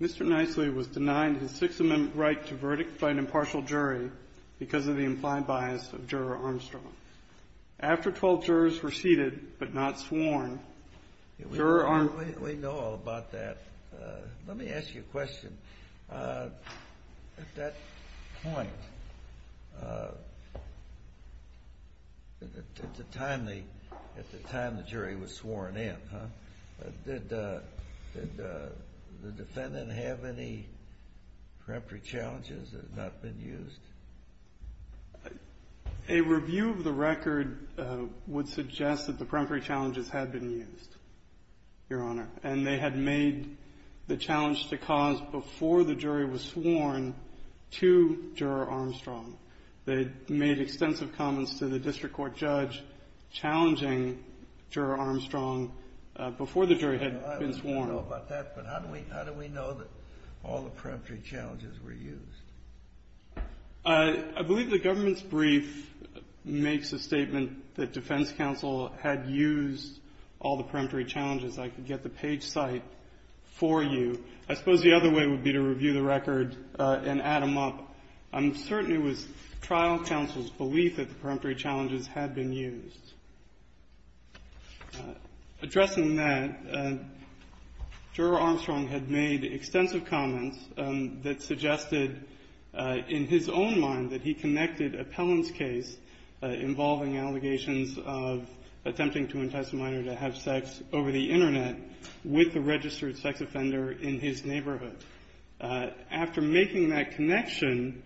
Mr. Nisely was denied his Sixth Amendment right to verdict by an impartial jury because of the implied bias of Juror Armstrong. After 12 jurors were seated but not sworn, Juror Armstrong... We know all about that. Let me ask you a question. At that point, at the time the jury was sworn in, did the defendant have any preemptory challenges that had not been used? A review of the record would suggest that the preemptory challenges had been used, Your Honor, and they had made the challenge to cause before the jury was sworn to Juror Armstrong. They made extensive comments to the district court judge challenging Juror Armstrong before the jury had been sworn. I don't know about that, but how do we know that all the preemptory challenges were used? I believe the government's brief makes a statement that defense counsel had used all the preemptory challenges. I could get the page cite for you. I suppose the other way would be to review the record and add them up. I'm certain it was trial counsel's belief that the preemptory challenges had been used. Addressing that, Juror Armstrong had made extensive comments that suggested in his own mind that he connected a Pelham's case involving allegations of attempting to entice a minor to have sex over the Internet with a registered sex offender in his neighborhood. After making that connection,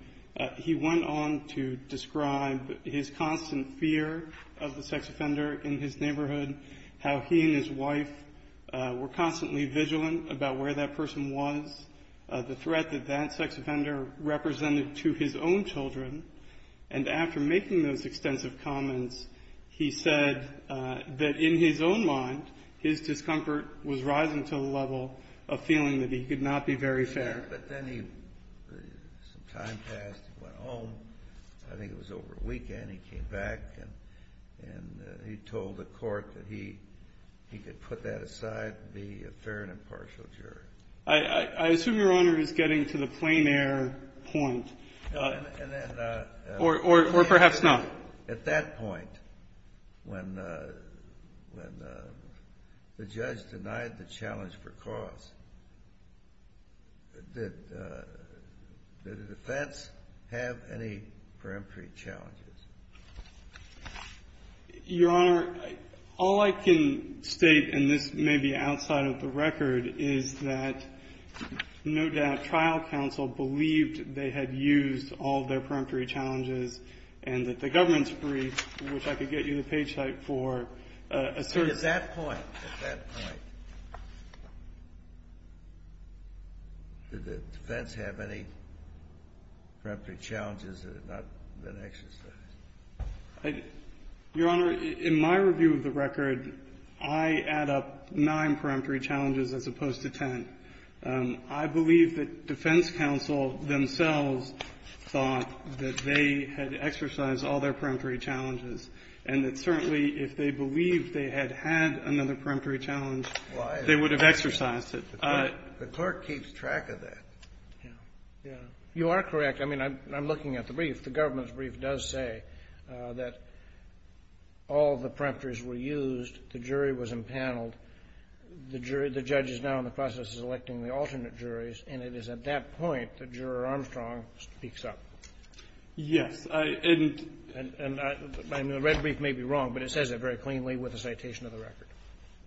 he went on to describe his constant fear of the sex offender in his neighborhood, how he and his wife were constantly vigilant about where that person was, the threat that that sex offender represented to his own children. And after making those extensive comments, he said that in his own mind, his discomfort was rising to the level of feeling that he could not be very fair. But then some time passed. He went home. I think it was over a weekend. He came back, and he told the court that he could put that aside and be a fair and impartial jury. I assume Your Honor is getting to the plein air point. Or perhaps not. At that point, when the judge denied the challenge for cause, did the defense have any preemptory challenges? Your Honor, all I can state, and this may be outside of the record, is that no doubt trial counsel believed they had used all their preemptory challenges and that the government's brief, which I could get you the page type for, asserts that point. At that point, did the defense have any preemptory challenges that had not been exercised? Your Honor, in my review of the record, I add up nine preemptory challenges as opposed to ten. I believe that defense counsel themselves thought that they had exercised all their preemptory challenges and that certainly if they believed they had had another preemptory challenge, they would have exercised it. The court keeps track of that. You are correct. I mean, I'm looking at the brief. The government's brief does say that all the preemptories were used, the jury was empaneled, the judge is now in the process of electing the alternate juries, and it is at that point the juror Armstrong speaks up. Yes. And I mean, the red brief may be wrong, but it says it very cleanly with the citation of the record.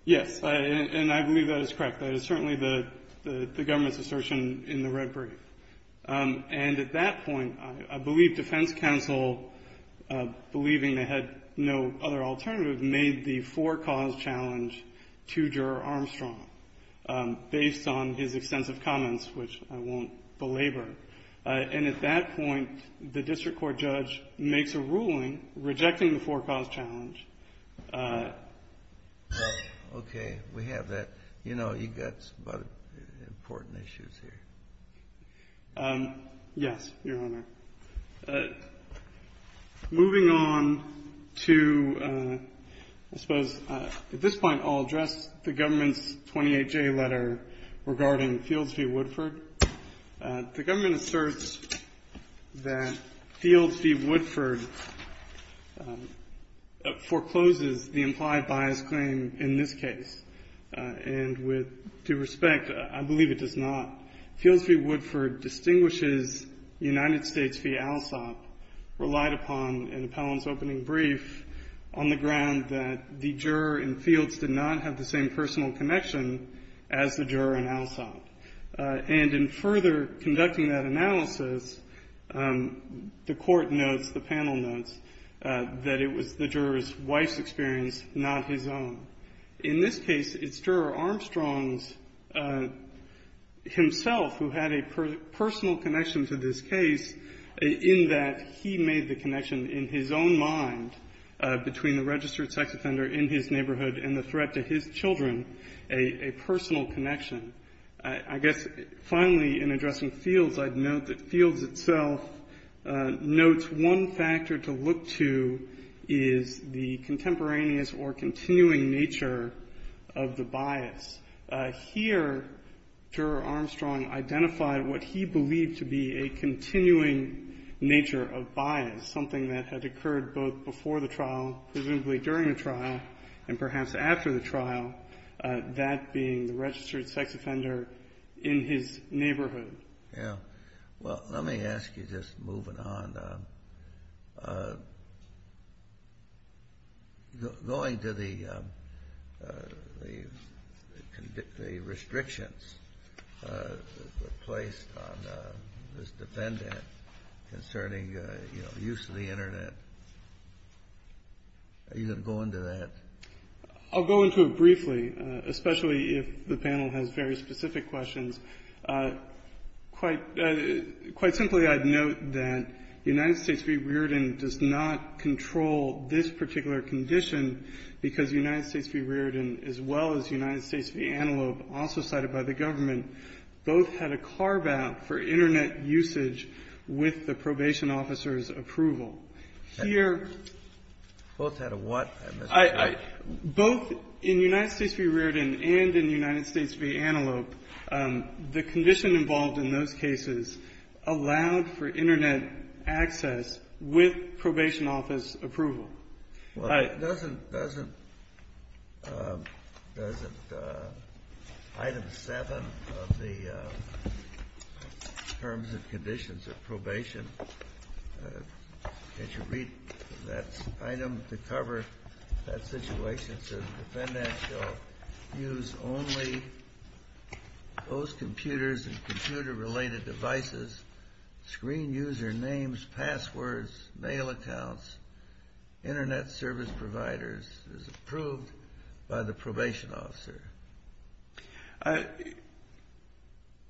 Yes, and I believe that is correct. That is certainly the government's assertion in the red brief. And at that point, I believe defense counsel, believing they had no other alternative, made the four-cause challenge to juror Armstrong based on his extensive comments, which I won't belabor. And at that point, the district court judge makes a ruling rejecting the four-cause challenge. Okay. We have that. You know, you've got a lot of important issues here. Yes, Your Honor. Moving on to I suppose at this point I'll address the government's 28-J letter regarding Fields v. Woodford. The government asserts that Fields v. Woodford forecloses the implied bias claim in this case. And with due respect, I believe it does not. Fields v. Woodford distinguishes United States v. ALSOP relied upon in Appellant's opening brief on the ground that the juror in Fields did not have the same personal connection as the juror in ALSOP. And in further conducting that analysis, the Court notes, the panel notes, that it was the juror's wife's experience, not his own. In this case, it's juror Armstrong's himself who had a personal connection to this case, in that he made the connection in his own mind between the registered sex offender in his neighborhood and the threat to his children a personal connection. I guess finally in addressing Fields, I'd note that Fields itself notes one factor to look to is the contemporaneous or continuing nature of the bias. Here, juror Armstrong identified what he believed to be a continuing nature of bias, something that had occurred both before the trial, presumably during the trial, and perhaps after the trial, that being the registered sex offender in his neighborhood. Yeah. Well, let me ask you, just moving on, going to the restrictions that were placed on this defendant concerning, you know, use of the Internet. Are you going to go into that? I'll go into it briefly, especially if the panel has very specific questions. Quite simply, I'd note that United States v. Reardon does not control this particular condition because United States v. Reardon, as well as United States v. Antelope, also cited by the government, both had a carve-out for Internet usage with the probation officer's approval. Both had a what? Both in United States v. Reardon and in United States v. Antelope, the condition involved in those cases allowed for Internet access with probation officer's approval. Well, doesn't Item 7 of the Terms and Conditions of Probation, as you read that item to cover that situation, says the defendant shall use only those computers and computer-related devices, screen user names, passwords, mail accounts, Internet service providers, as approved by the probation officer.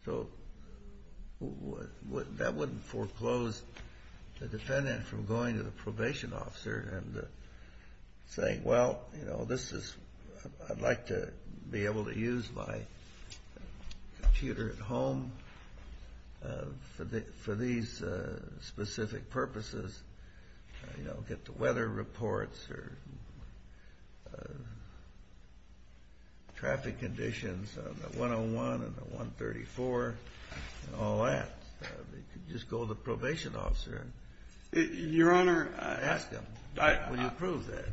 So that wouldn't foreclose the defendant from going to the probation officer and saying, well, you know, this is, I'd like to be able to use my computer at home for these specific purposes, you know, get the weather reports or traffic conditions on the 101 and the 134 and all that. They could just go to the probation officer and ask them, will you approve that?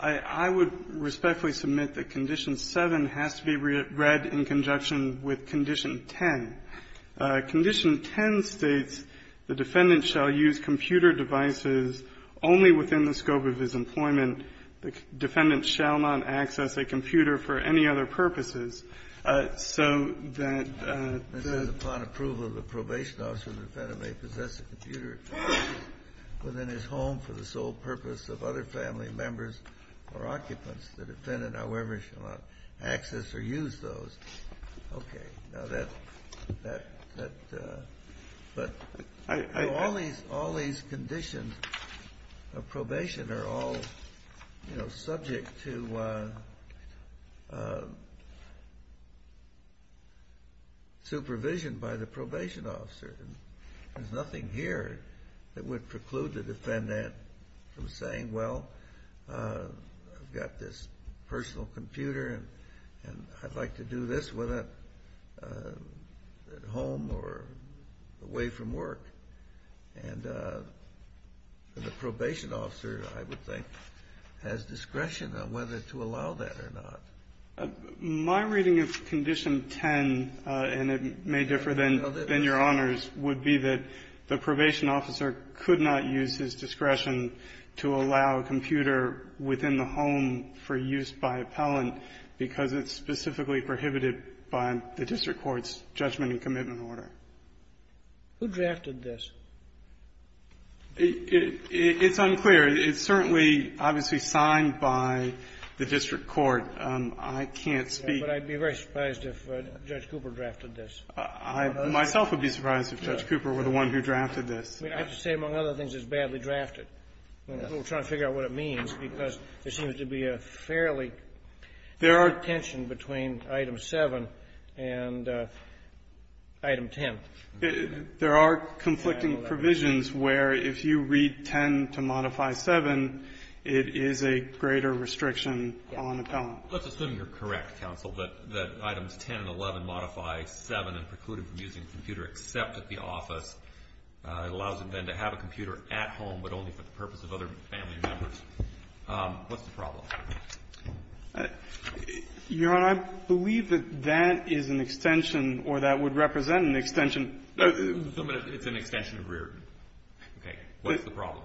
I would respectfully submit that Condition 7 has to be read in conjunction with Condition 10. Condition 10 states the defendant shall use computer devices only within the scope of his employment. The defendant shall not access a computer for any other purposes. So that the ---- This says, upon approval, the probation officer may possess a computer within his home for the sole purpose of other family members or occupants. The defendant, however, shall not access or use those. Okay. Now that ---- But all these conditions of probation are all, you know, subject to supervision by the probation officer. There's nothing here that would preclude the defendant from saying, well, I've got this personal computer and I'd like to do this whether at home or away from work. And the probation officer, I would think, has discretion on whether to allow that or not. My reading of Condition 10, and it may differ than your Honor's, would be that the probation officer could not use his discretion to allow a computer within the home for use by appellant because it's specifically prohibited by the district court's judgment and commitment order. Who drafted this? It's unclear. It's certainly, obviously, signed by the district court. I can't speak ---- But I'd be very surprised if Judge Cooper drafted this. I myself would be surprised if Judge Cooper were the one who drafted this. I have to say, among other things, it's badly drafted. We're trying to figure out what it means because there seems to be a fairly ---- There are -------- tension between Item 7 and Item 10. There are conflicting provisions where if you read 10 to modify 7, it is a greater restriction on appellant. Let's assume you're correct, counsel, that Items 10 and 11 modify 7 and preclude it from using a computer except at the office. It allows them then to have a computer at home but only for the purpose of other family members. What's the problem? Your Honor, I believe that that is an extension or that would represent an extension It's an extension of Reardon. Okay. What's the problem?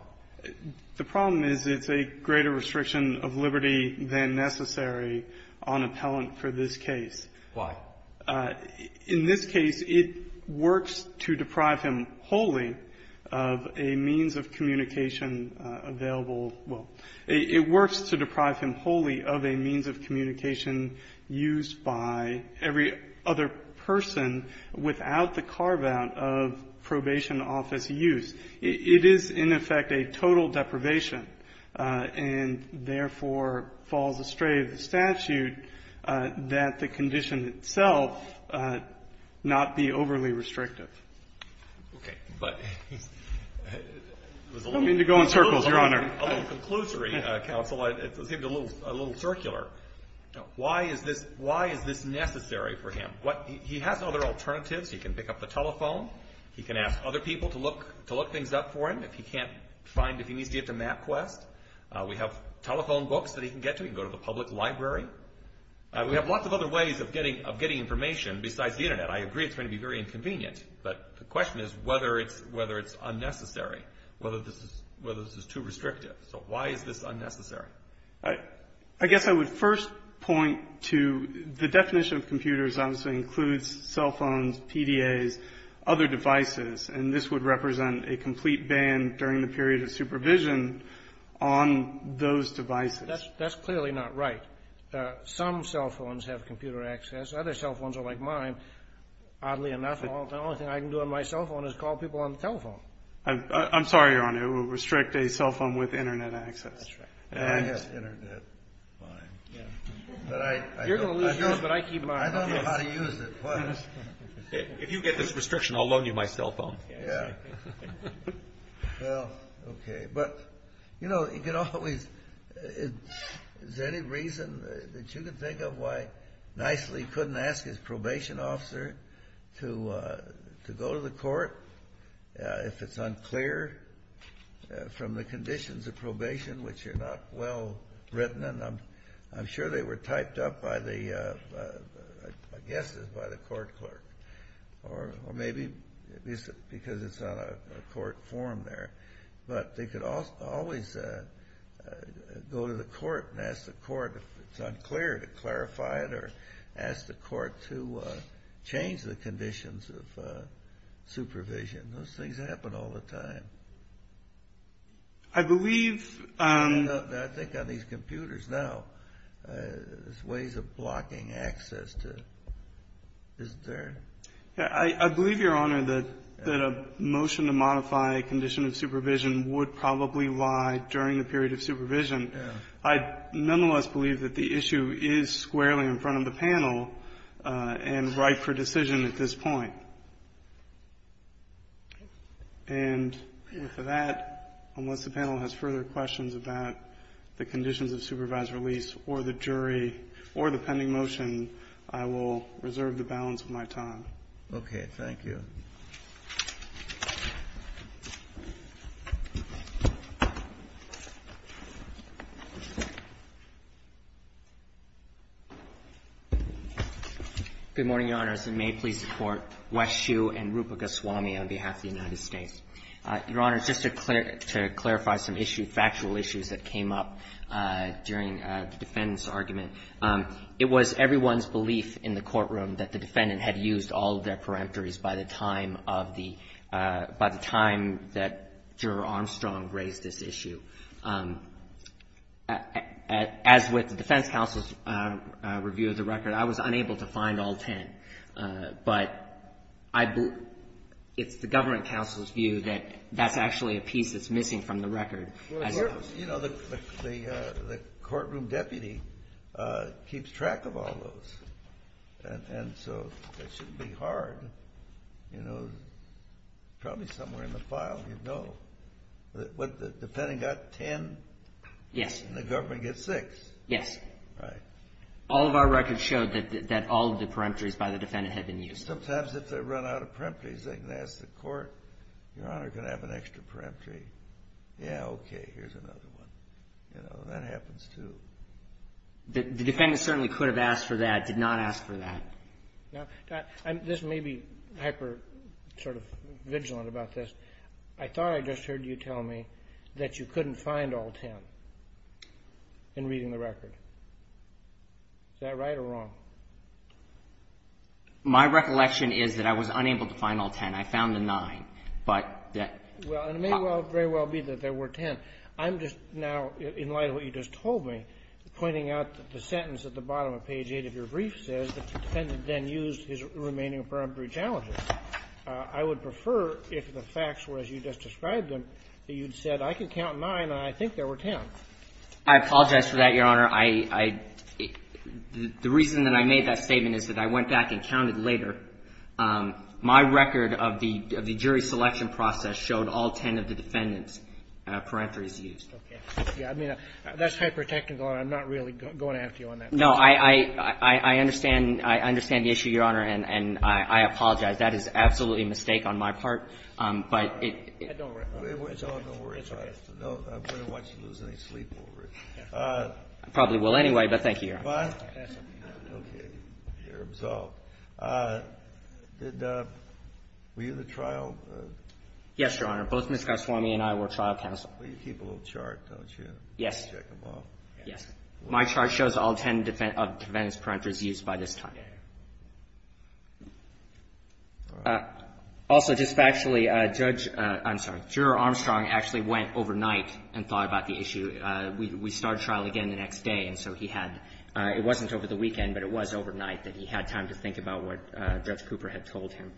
The problem is it's a greater restriction of liberty than necessary on appellant for this case. Why? In this case, it works to deprive him wholly of a means of communication available. Well, it works to deprive him wholly of a means of communication used by every other person without the carve-out of probation office use. It is, in effect, a total deprivation and, therefore, falls astray of the statute that the condition itself not be overly restrictive. Okay. But ---- I don't mean to go in circles, Your Honor. A little conclusory, counsel. It seemed a little circular. Why is this necessary for him? He has other alternatives. He can pick up the telephone. He can ask other people to look things up for him if he needs to get to MapQuest. We have telephone books that he can get to. He can go to the public library. We have lots of other ways of getting information besides the Internet. I agree it's going to be very inconvenient, but the question is whether it's unnecessary, whether this is too restrictive. So why is this unnecessary? I guess I would first point to the definition of computers obviously includes cell phones, PDAs, other devices, and this would represent a complete ban during the period of supervision on those devices. That's clearly not right. Some cell phones have computer access. Other cell phones are like mine. Oddly enough, the only thing I can do on my cell phone is call people on the telephone. I'm sorry, Your Honor. It would restrict a cell phone with Internet access. I have Internet. Fine. You're going to lose yours, but I keep mine. I don't know how to use it. If you get this restriction, I'll loan you my cell phone. Yeah. Well, okay. But, you know, you can always – is there any reason that you can think of why Nicely couldn't ask his probation officer to go to the court if it's unclear from the conditions of probation, which are not well written, and I'm sure they were typed up by the – I guess it was by the court clerk or maybe because it's on a court form there. But they could always go to the court and ask the court if it's unclear to clarify it or ask the court to change the conditions of supervision. Those things happen all the time. I believe – I think on these computers now, there's ways of blocking access to it. Isn't there? I believe, Your Honor, that a motion to modify a condition of supervision would probably lie during the period of supervision. I nonetheless believe that the issue is squarely in front of the panel and ripe for decision at this point. And with that, unless the panel has further questions about the conditions of supervised release or the jury or the pending motion, I will reserve the balance of my time. Okay. Thank you. Good morning, Your Honors, and may it please the Court. Wes Hsu and Rupa Goswami on behalf of the United States. Your Honors, just to clarify some issues, factual issues that came up during the defendant's argument. It was everyone's belief in the courtroom that the defendant had used all of their peremptories by the time of the – by the time that Juror Armstrong raised this issue. As with the defense counsel's review of the record, I was unable to find all ten. But I – it's the government counsel's view that that's actually a piece that's missing from the record. You know, the courtroom deputy keeps track of all those. And so it shouldn't be hard. You know, probably somewhere in the file you'd know. But the defendant got ten. Yes. And the government gets six. Yes. Right. All of our records showed that all of the peremptories by the defendant had been used. Sometimes if they run out of peremptories, they can ask the court, Your Honor, can I have an extra peremptory? Yeah, okay, here's another one. You know, that happens too. The defendant certainly could have asked for that, did not ask for that. Now, this may be hyper sort of vigilant about this. I thought I just heard you tell me that you couldn't find all ten in reading the record. Is that right or wrong? My recollection is that I was unable to find all ten. I found the nine. Well, it may very well be that there were ten. I'm just now, in light of what you just told me, pointing out that the sentence at the bottom of page 8 of your brief says that the defendant then used his remaining peremptory challenges. I would prefer if the facts were as you just described them, that you'd said I can count nine and I think there were ten. I apologize for that, Your Honor. I – the reason that I made that statement is that I went back and counted later. My record of the jury selection process showed all ten of the defendants' peremptories used. Okay. Yeah, I mean, that's hyper technical, and I'm not really going after you on that. No, I understand. I understand the issue, Your Honor, and I apologize. That is absolutely a mistake on my part, but it – Don't worry. Don't worry. I wouldn't want you to lose any sleep over it. I probably will anyway, but thank you, Your Honor. Fine. Okay. You're absolved. Did the – were you the trial? Yes, Your Honor. Both Ms. Goswami and I were trial counsel. Well, you keep a little chart, don't you? Check them off. Yes. My chart shows all ten defendants' peremptories used by this time. Also, just factually, Judge – I'm sorry. Juror Armstrong actually went overnight and thought about the issue. We started trial again the next day, and so he had – it wasn't over the weekend, but it was overnight that he had time to think about what Judge Cooper had told him.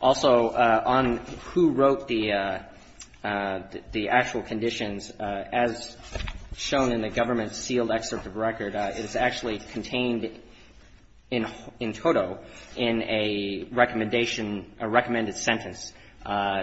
Also, on who wrote the actual conditions, as shown in the government sealed excerpt of record, it is actually contained in toto in a recommendation – a recommended sentence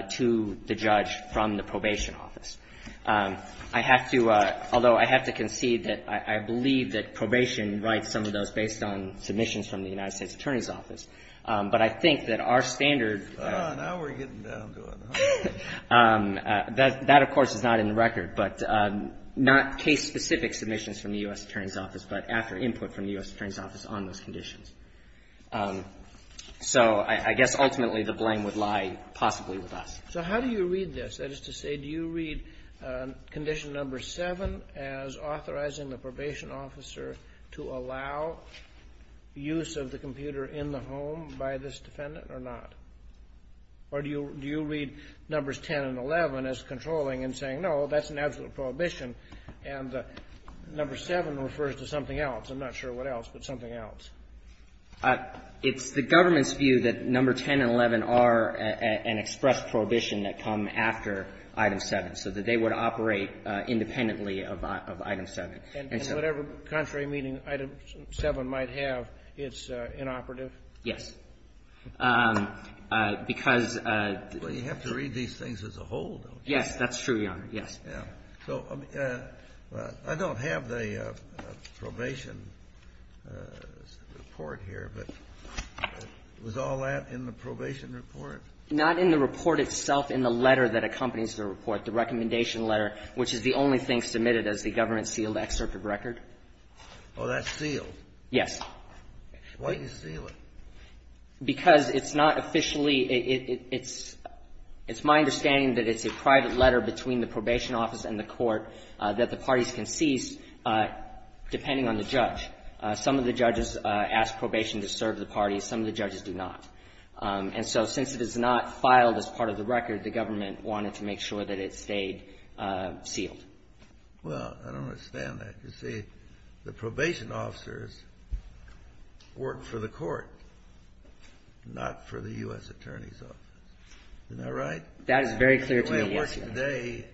to the judge from the probation office. I have to – although I have to concede that I believe that probation writes some of those based on submissions from the United States Attorney's Office. But I think that our standard – Now we're getting down to it. That, of course, is not in the record. But not case-specific submissions from the U.S. Attorney's Office, but after input from the U.S. Attorney's Office on those conditions. So I guess ultimately the blame would lie possibly with us. So how do you read this? That is to say, do you read condition number seven as authorizing the probation officer to allow use of the computer in the home by this defendant or not? Or do you read numbers 10 and 11 as controlling and saying, no, that's an absolute prohibition, and number seven refers to something else? I'm not sure what else, but something else. It's the government's view that number 10 and 11 are an express prohibition that come after item seven, so that they would operate independently of item seven. And whatever contrary meaning item seven might have, it's inoperative? Yes. Because the – Well, you have to read these things as a whole, don't you? Yes. That's true, Your Honor. Yes. Yeah. So I don't have the probation report here, but was all that in the probation report? Not in the report itself, in the letter that accompanies the report, the recommendation letter, which is the only thing submitted as the government-sealed excerpt of record. Oh, that's sealed? Yes. Why do you seal it? Because it's not officially – it's my understanding that it's a private letter between the probation office and the court that the parties can cease depending on the judge. Some of the judges ask probation to serve the parties. Some of the judges do not. And so since it is not filed as part of the record, the government wanted to make sure that it stayed sealed. Well, I don't understand that. You see, the probation officers work for the court, not for the U.S. Attorney's Office. Isn't that right? That is very clear to me, yes, Your Honor. They work today.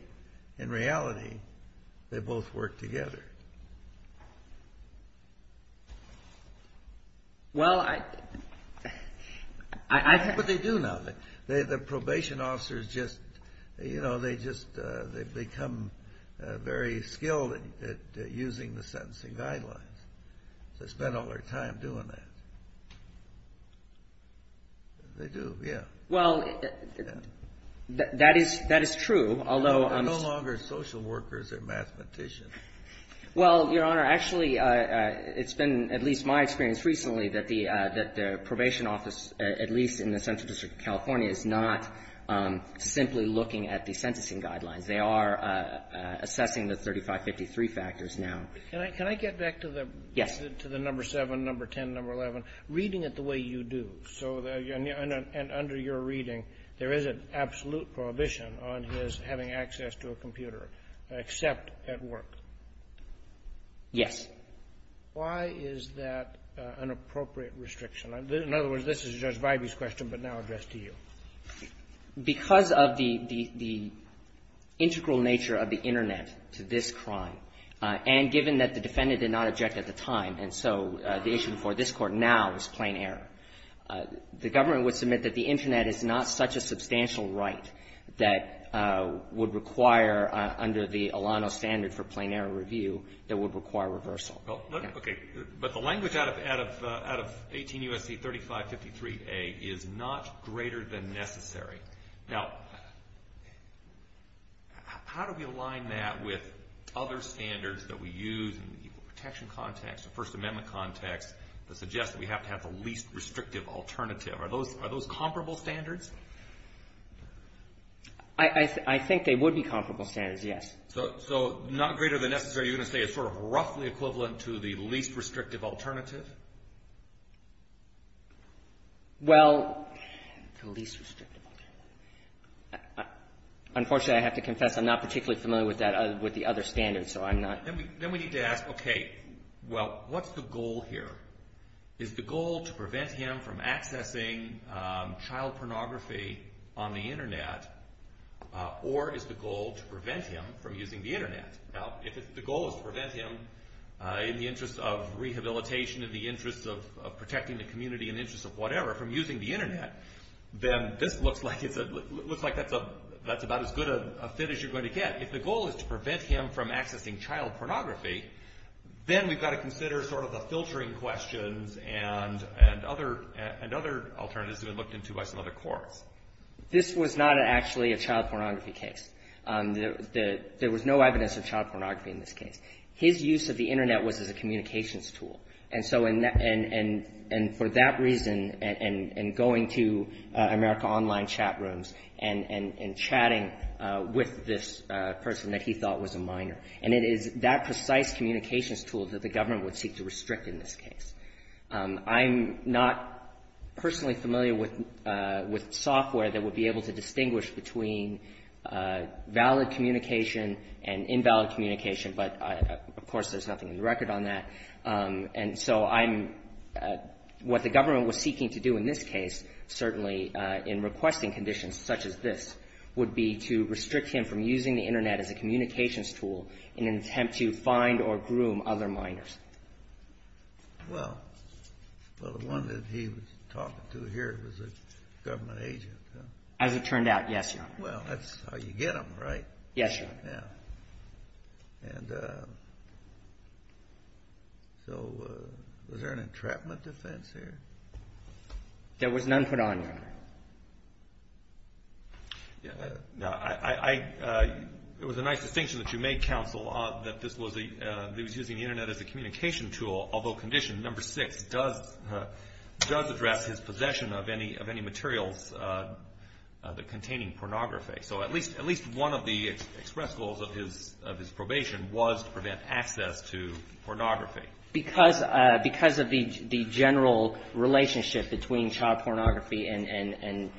In reality, they both work together. Well, I – But they do now. The probation officers just – you know, they just – they've become very skilled at using the sentencing guidelines. They spend all their time doing that. They do, yes. Well, that is true, although – They're no longer social workers or mathematicians. Well, Your Honor, actually, it's been at least my experience recently that the probation office, at least in the Central District of California, is not simply looking at the sentencing guidelines. They are assessing the 3553 factors now. Can I get back to the – Yes. To the number 7, number 10, number 11. Reading it the way you do, so – and under your reading, there is an absolute prohibition on his having access to a computer, except at work. Yes. Why is that an appropriate restriction? In other words, this is Judge Vibey's question, but now addressed to you. Because of the integral nature of the Internet to this crime, and given that the defendant did not object at the time, and so the issue before this Court now is plain error, the government would submit that the Internet is not such a substantial right that would require, under the Alano standard for plain error review, that would require reversal. Okay. But the language out of 18 U.S.C. 3553A is not greater than necessary. Now, how do we align that with other standards that we use in the equal protection context, the First Amendment context, that suggests that we have to have the least restrictive alternative? Are those comparable standards? I think they would be comparable standards, yes. So not greater than necessary, you're going to say is sort of roughly equivalent to the least restrictive alternative? Well, the least restrictive alternative. Unfortunately, I have to confess, I'm not particularly familiar with the other standards, so I'm not – Then we need to ask, okay, well, what's the goal here? Is the goal to prevent him from accessing child pornography on the Internet, or is the goal to prevent him from using the Internet? Now, if the goal is to prevent him, in the interest of rehabilitation, in the interest of protecting the community, in the interest of whatever, from using the Internet, then this looks like that's about as good a fit as you're going to get. If the goal is to prevent him from accessing child pornography, then we've got to consider sort of the filtering questions and other alternatives that have been looked into by some other courts. This was not actually a child pornography case. There was no evidence of child pornography in this case. His use of the Internet was as a communications tool. And so for that reason, and going to America Online chat rooms and chatting with this person that he thought was a minor, and it is that precise communications tool that the government would seek to restrict in this case. I'm not personally familiar with software that would be able to distinguish between valid communication and invalid communication, but of course there's nothing in the record on that. And so what the government was seeking to do in this case, certainly in requesting conditions such as this, would be to restrict him from using the Internet as a communications tool in an attempt to find or groom other minors. Well, the one that he was talking to here was a government agent, huh? As it turned out, yes, Your Honor. Well, that's how you get them, right? Yes, Your Honor. Yeah. And so was there an entrapment defense here? There was none put on, Your Honor. No. It was a nice distinction that you made, counsel, that this was using the Internet as a communication tool, although condition number six does address his possession of any materials that contain pornography. So at least one of the express goals of his probation was to prevent access to pornography. Because of the general relationship between child pornography and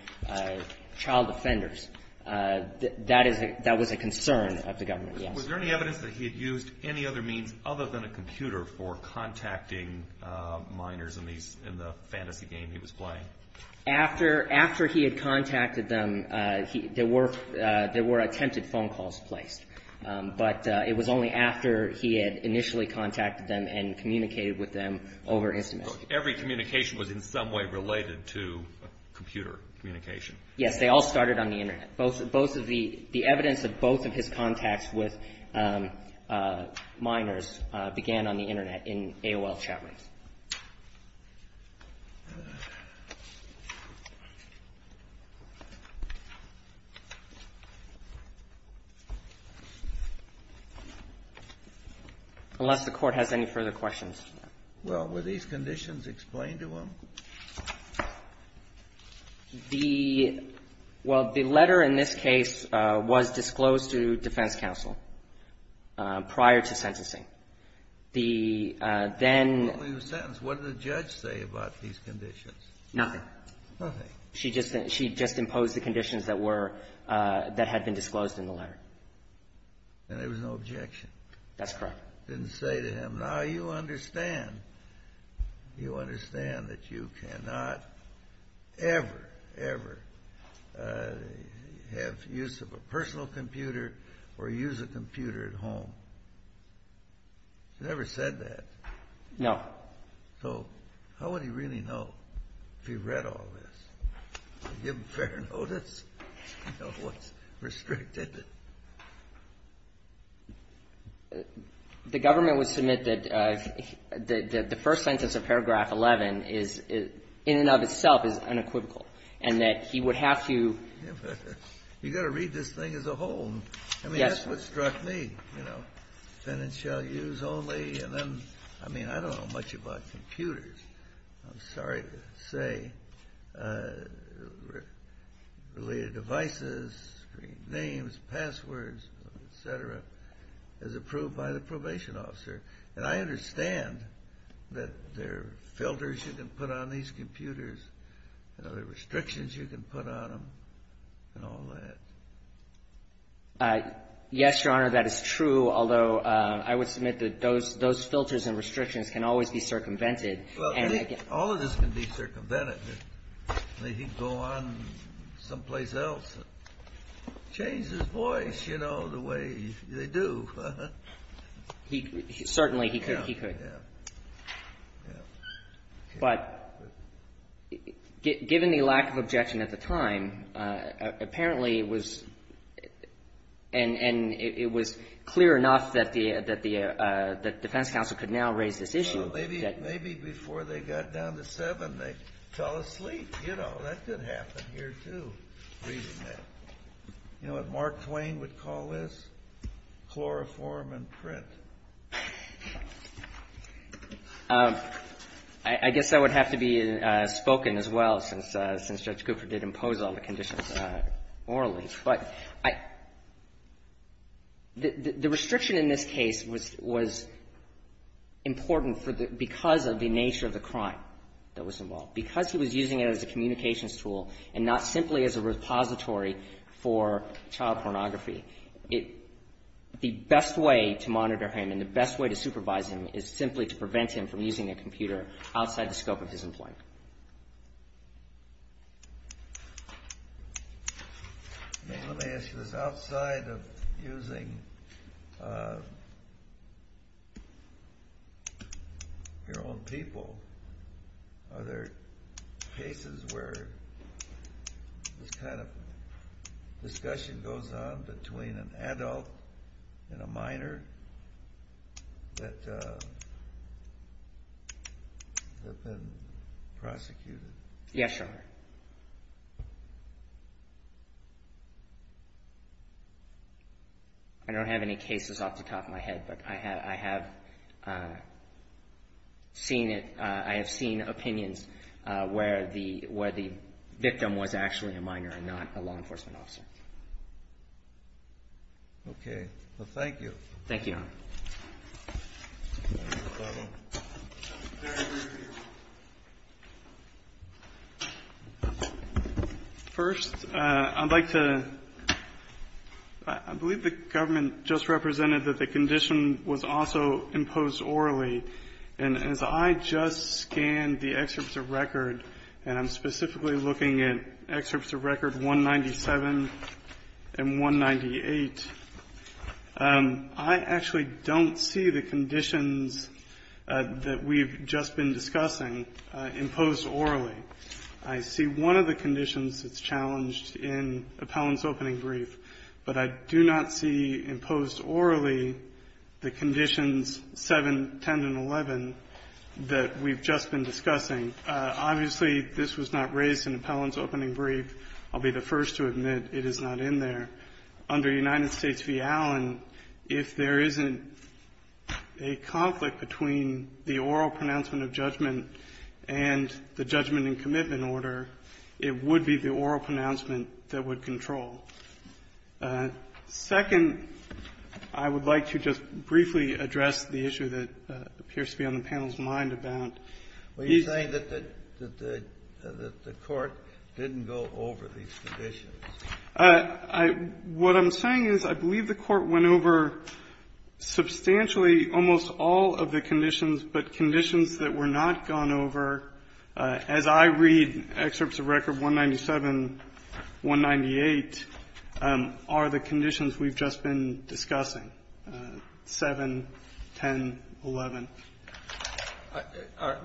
child offenders, that was a concern of the government, yes. Was there any evidence that he had used any other means other than a computer for contacting minors in the fantasy game he was playing? After he had contacted them, there were attempted phone calls placed. But it was only after he had initially contacted them and communicated with them over Instamysk. Every communication was in some way related to computer communication. Yes. They all started on the Internet. The evidence of both of his contacts with minors began on the Internet in AOL chat rooms. Unless the Court has any further questions. Well, were these conditions explained to him? The — well, the letter in this case was disclosed to defense counsel prior to sentencing. The then — What did the judge say about these conditions? Nothing. Nothing. She just imposed the conditions that were — that had been disclosed in the letter. And there was no objection? That's correct. Didn't say to him, now you understand. You understand that you cannot ever, ever have use of a personal computer or use a computer at home. He never said that. No. So how would he really know if he read all this? To give fair notice of what's restricted. The government would submit that the first sentence of paragraph 11 is, in and of itself, is unequivocal. And that he would have to — You've got to read this thing as a whole. I mean, that's what struck me, you know. Then it shall use only, and then — I mean, I don't know much about computers. I'm sorry to say, related devices, screen names, passwords, et cetera, is approved by the probation officer. And I understand that there are filters you can put on these computers. There are restrictions you can put on them and all that. Yes, Your Honor, that is true, although I would submit that those filters and restrictions can always be circumvented. Well, all of this can be circumvented. He can go on someplace else and change his voice, you know, the way they do. Certainly, he could. Yeah, yeah. But given the lack of objection at the time, apparently it was — and it was clear enough that the defense counsel could now raise this issue. Well, maybe before they got down to seven, they fell asleep. You know, that could happen here, too, reading that. You know what Mark Twain would call this? Chloroform and print. I guess that would have to be spoken as well, since Judge Cooper did impose all the conditions morally. But the restriction in this case was important because of the nature of the crime that was involved. Because he was using it as a communications tool and not simply as a repository for child pornography, the best way to monitor him and the best way to supervise him is simply to prevent him from using a computer outside the scope of his employment. Let me ask you this. Yes, Your Honor. I don't have any cases off the top of my head, but I have seen it. I have seen opinions where the victim was actually a minor and not a law enforcement officer. Okay. Thank you, Your Honor. First, I'd like to ‑‑ I believe the government just represented that the condition was also imposed orally. And as I just scanned the excerpts of record, and I'm specifically looking at excerpts of record 197 and 198, I actually don't see the conditions that we've just been discussing imposed orally. I see one of the conditions that's challenged in Appellant's opening brief, but I do not see imposed orally the conditions 7, 10, and 11 that we've just been discussing. Obviously, this was not raised in Appellant's opening brief. I'll be the first to admit it is not in there. Under United States v. Allen, if there isn't a conflict between the oral pronouncement of judgment and the judgment in commitment order, it would be the oral pronouncement that would control. Second, I would like to just briefly address the issue that appears to be on the panel's mind about these ‑‑ And what I'm saying is I believe the Court went over substantially almost all of the conditions, but conditions that were not gone over, as I read excerpts of record 197, 198, are the conditions we've just been discussing, 7, 10, 11.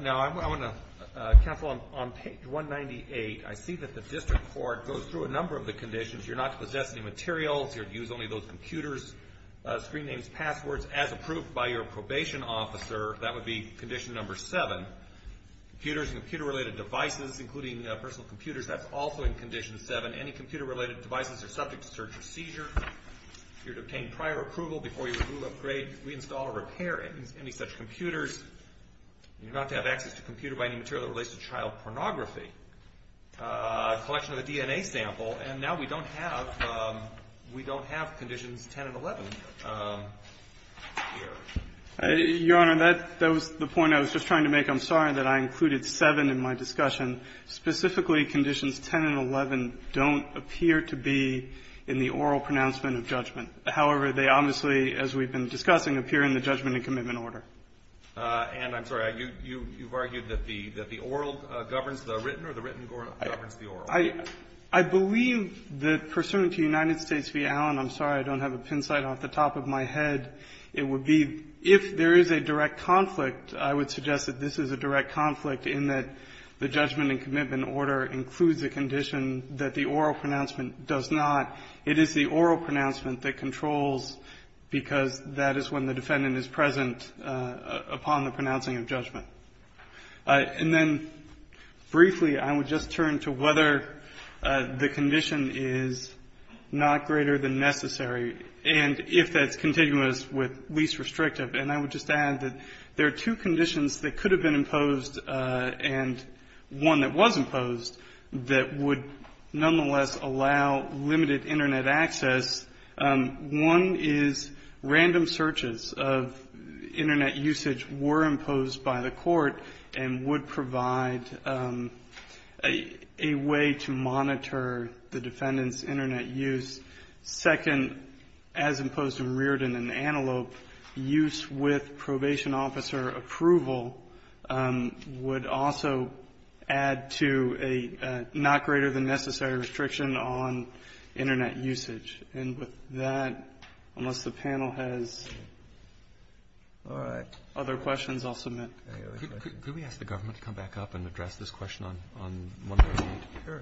Now, I want to ‑‑ Counsel, on page 198, I see that the district court goes through a number of the conditions. You're not to possess any materials. You're to use only those computers, screen names, passwords, as approved by your probation officer. That would be condition number 7. Computers and computer‑related devices, including personal computers, that's also in condition 7. Any computer‑related devices are subject to search or seizure. You're to obtain prior approval before you remove, upgrade, reinstall, or repair any such computers. You're not to have access to computer‑by‑any material that relates to child pornography. A collection of the DNA sample, and now we don't have ‑‑ we don't have conditions 10 and 11 here. Your Honor, that was the point I was just trying to make. I'm sorry that I included 7 in my discussion. Specifically, conditions 10 and 11 don't appear to be in the oral pronouncement of judgment. However, they obviously, as we've been discussing, appear in the judgment and commitment order. And I'm sorry, you've argued that the oral governs the written or the written governs the oral? I believe that, pursuant to United States v. Allen, I'm sorry, I don't have a pin sign off the top of my head, it would be, if there is a direct conflict, I would suggest that this is a direct conflict in that the judgment and commitment order includes a condition that the oral pronouncement does not. It is the oral pronouncement that controls, because that is when the defendant is present upon the pronouncing of judgment. And then, briefly, I would just turn to whether the condition is not greater than necessary, and if that's continuous with least restrictive. And I would just add that there are two conditions that could have been imposed, and one that was imposed, that would nonetheless allow limited Internet access. One is random searches of Internet usage were imposed by the Court and would provide a way to monitor the defendant's Internet use. Second, as imposed in Reardon and Antelope, use with probation officer approval would also add to a not greater than necessary restriction on Internet usage. And with that, unless the panel has other questions, I'll submit. Can we ask the government to come back up and address this question on page 198? Sure.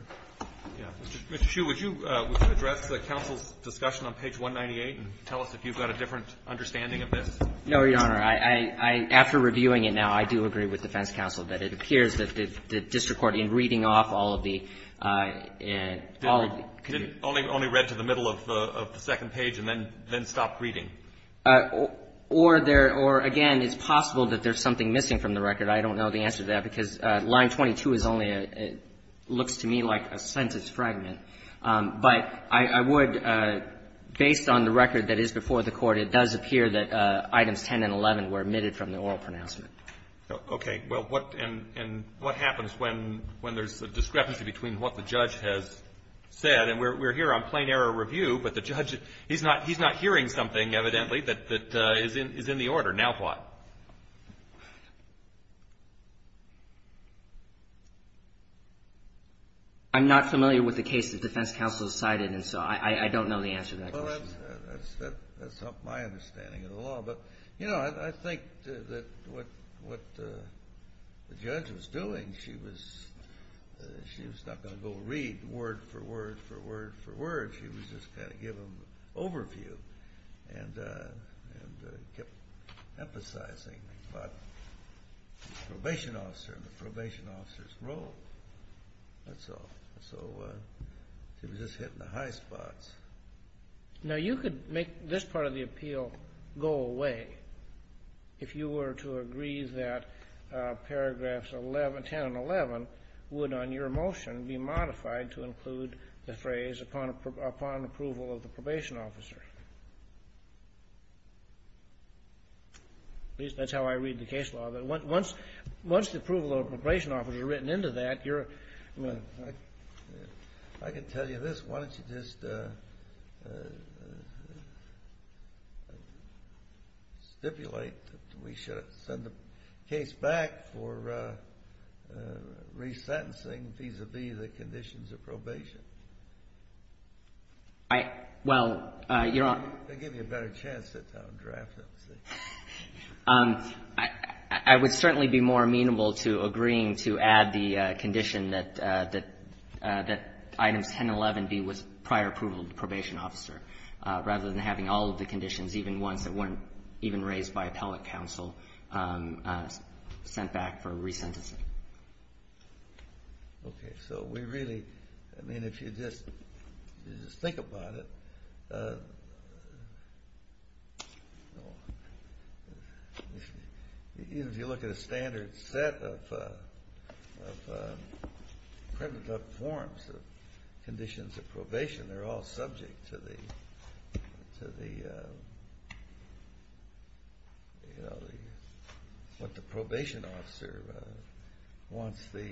Mr. Hsu, would you address the counsel's discussion on page 198 and tell us if you've got a different understanding of this? No, Your Honor. I, after reviewing it now, I do agree with defense counsel that it appears that the district court, in reading off all of the, all of the... It only read to the middle of the second page and then stopped reading. Or there, or again, it's possible that there's something missing from the record. I don't know the answer to that, because line 22 is only a, looks to me like a sentence fragment. But I would, based on the record that is before the Court, it does appear that items 10 and 11 were omitted from the oral pronouncement. Okay. Well, what, and what happens when there's a discrepancy between what the judge has said? And we're here on plain error review, but the judge, he's not hearing something, evidently, that is in the order. Now what? I'm not familiar with the case that defense counsel has cited, and so I, I don't know the answer to that question. Well, that's, that's, that's not my understanding of the law. But, you know, I, I think that what, what the judge was doing, she was, she was not going to go read word for word for word for word. She was just going to give them an overview and, and emphasize the, the probation officer, the probation officer's role. That's all. So she was just hitting the high spots. Now you could make this part of the appeal go away if you were to agree that paragraphs 11, 10 and 11 would, on your motion, be modified to include the phrase upon, upon approval of the probation officer. At least that's how I read the case law. But once, once the approval of the probation officer is written into that, you're I can tell you this. Why don't you just stipulate that we should send the case back for resentencing I, well, Your Honor. They'll give you a better chance to sit down and draft it. I would certainly be more amenable to agreeing to add the condition that, that, that item 1011B was prior approval of the probation officer, rather than having all of the conditions, even ones that weren't even raised by appellate counsel, sent back for resentencing. Okay. So we really, I mean, if you just think about it, even if you look at a standard set of forms of conditions of probation, they're all subject to the, to the, you know, what the defendant wants the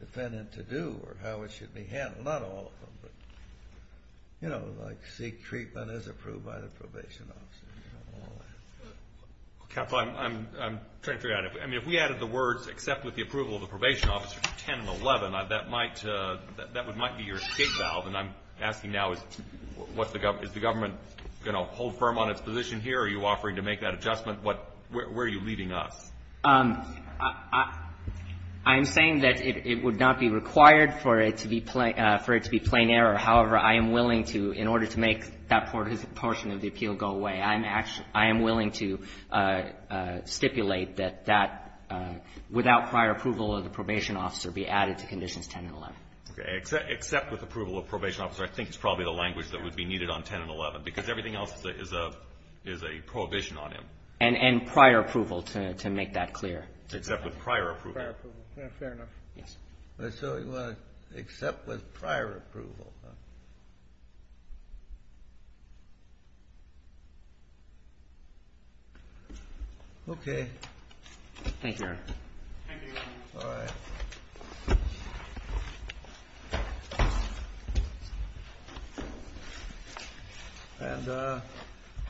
defendant to do or how it should be handled. Not all of them, but, you know, like seek treatment as approved by the probation officer. Counsel, I'm trying to figure out, I mean, if we added the words except with the approval of the probation officer to 1011, that might, that might be your escape valve. And I'm asking now, is the government going to hold firm on its position here? Are you offering to make that adjustment? What, where are you leading us? I'm saying that it would not be required for it to be plain, for it to be plain error. However, I am willing to, in order to make that portion of the appeal go away, I'm actually, I am willing to stipulate that that, without prior approval of the probation officer, be added to Conditions 10 and 11. Okay. Except with approval of probation officer, I think it's probably the language that would be needed on 10 and 11, because everything else is a, is a prohibition on him. And prior approval, to make that clear. Except with prior approval. Prior approval. Fair enough. Yes. Except with prior approval. Okay. Thank you, Your Honor. Thank you, Your Honor. All right. And the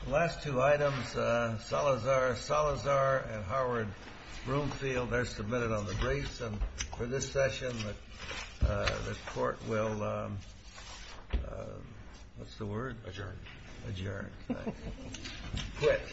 last two items, Salazar, Salazar and Howard-Broomfield, they're submitted on the briefs. And for this session, the Court will, what's the word? Adjourn. Adjourn. Thanks. Quit.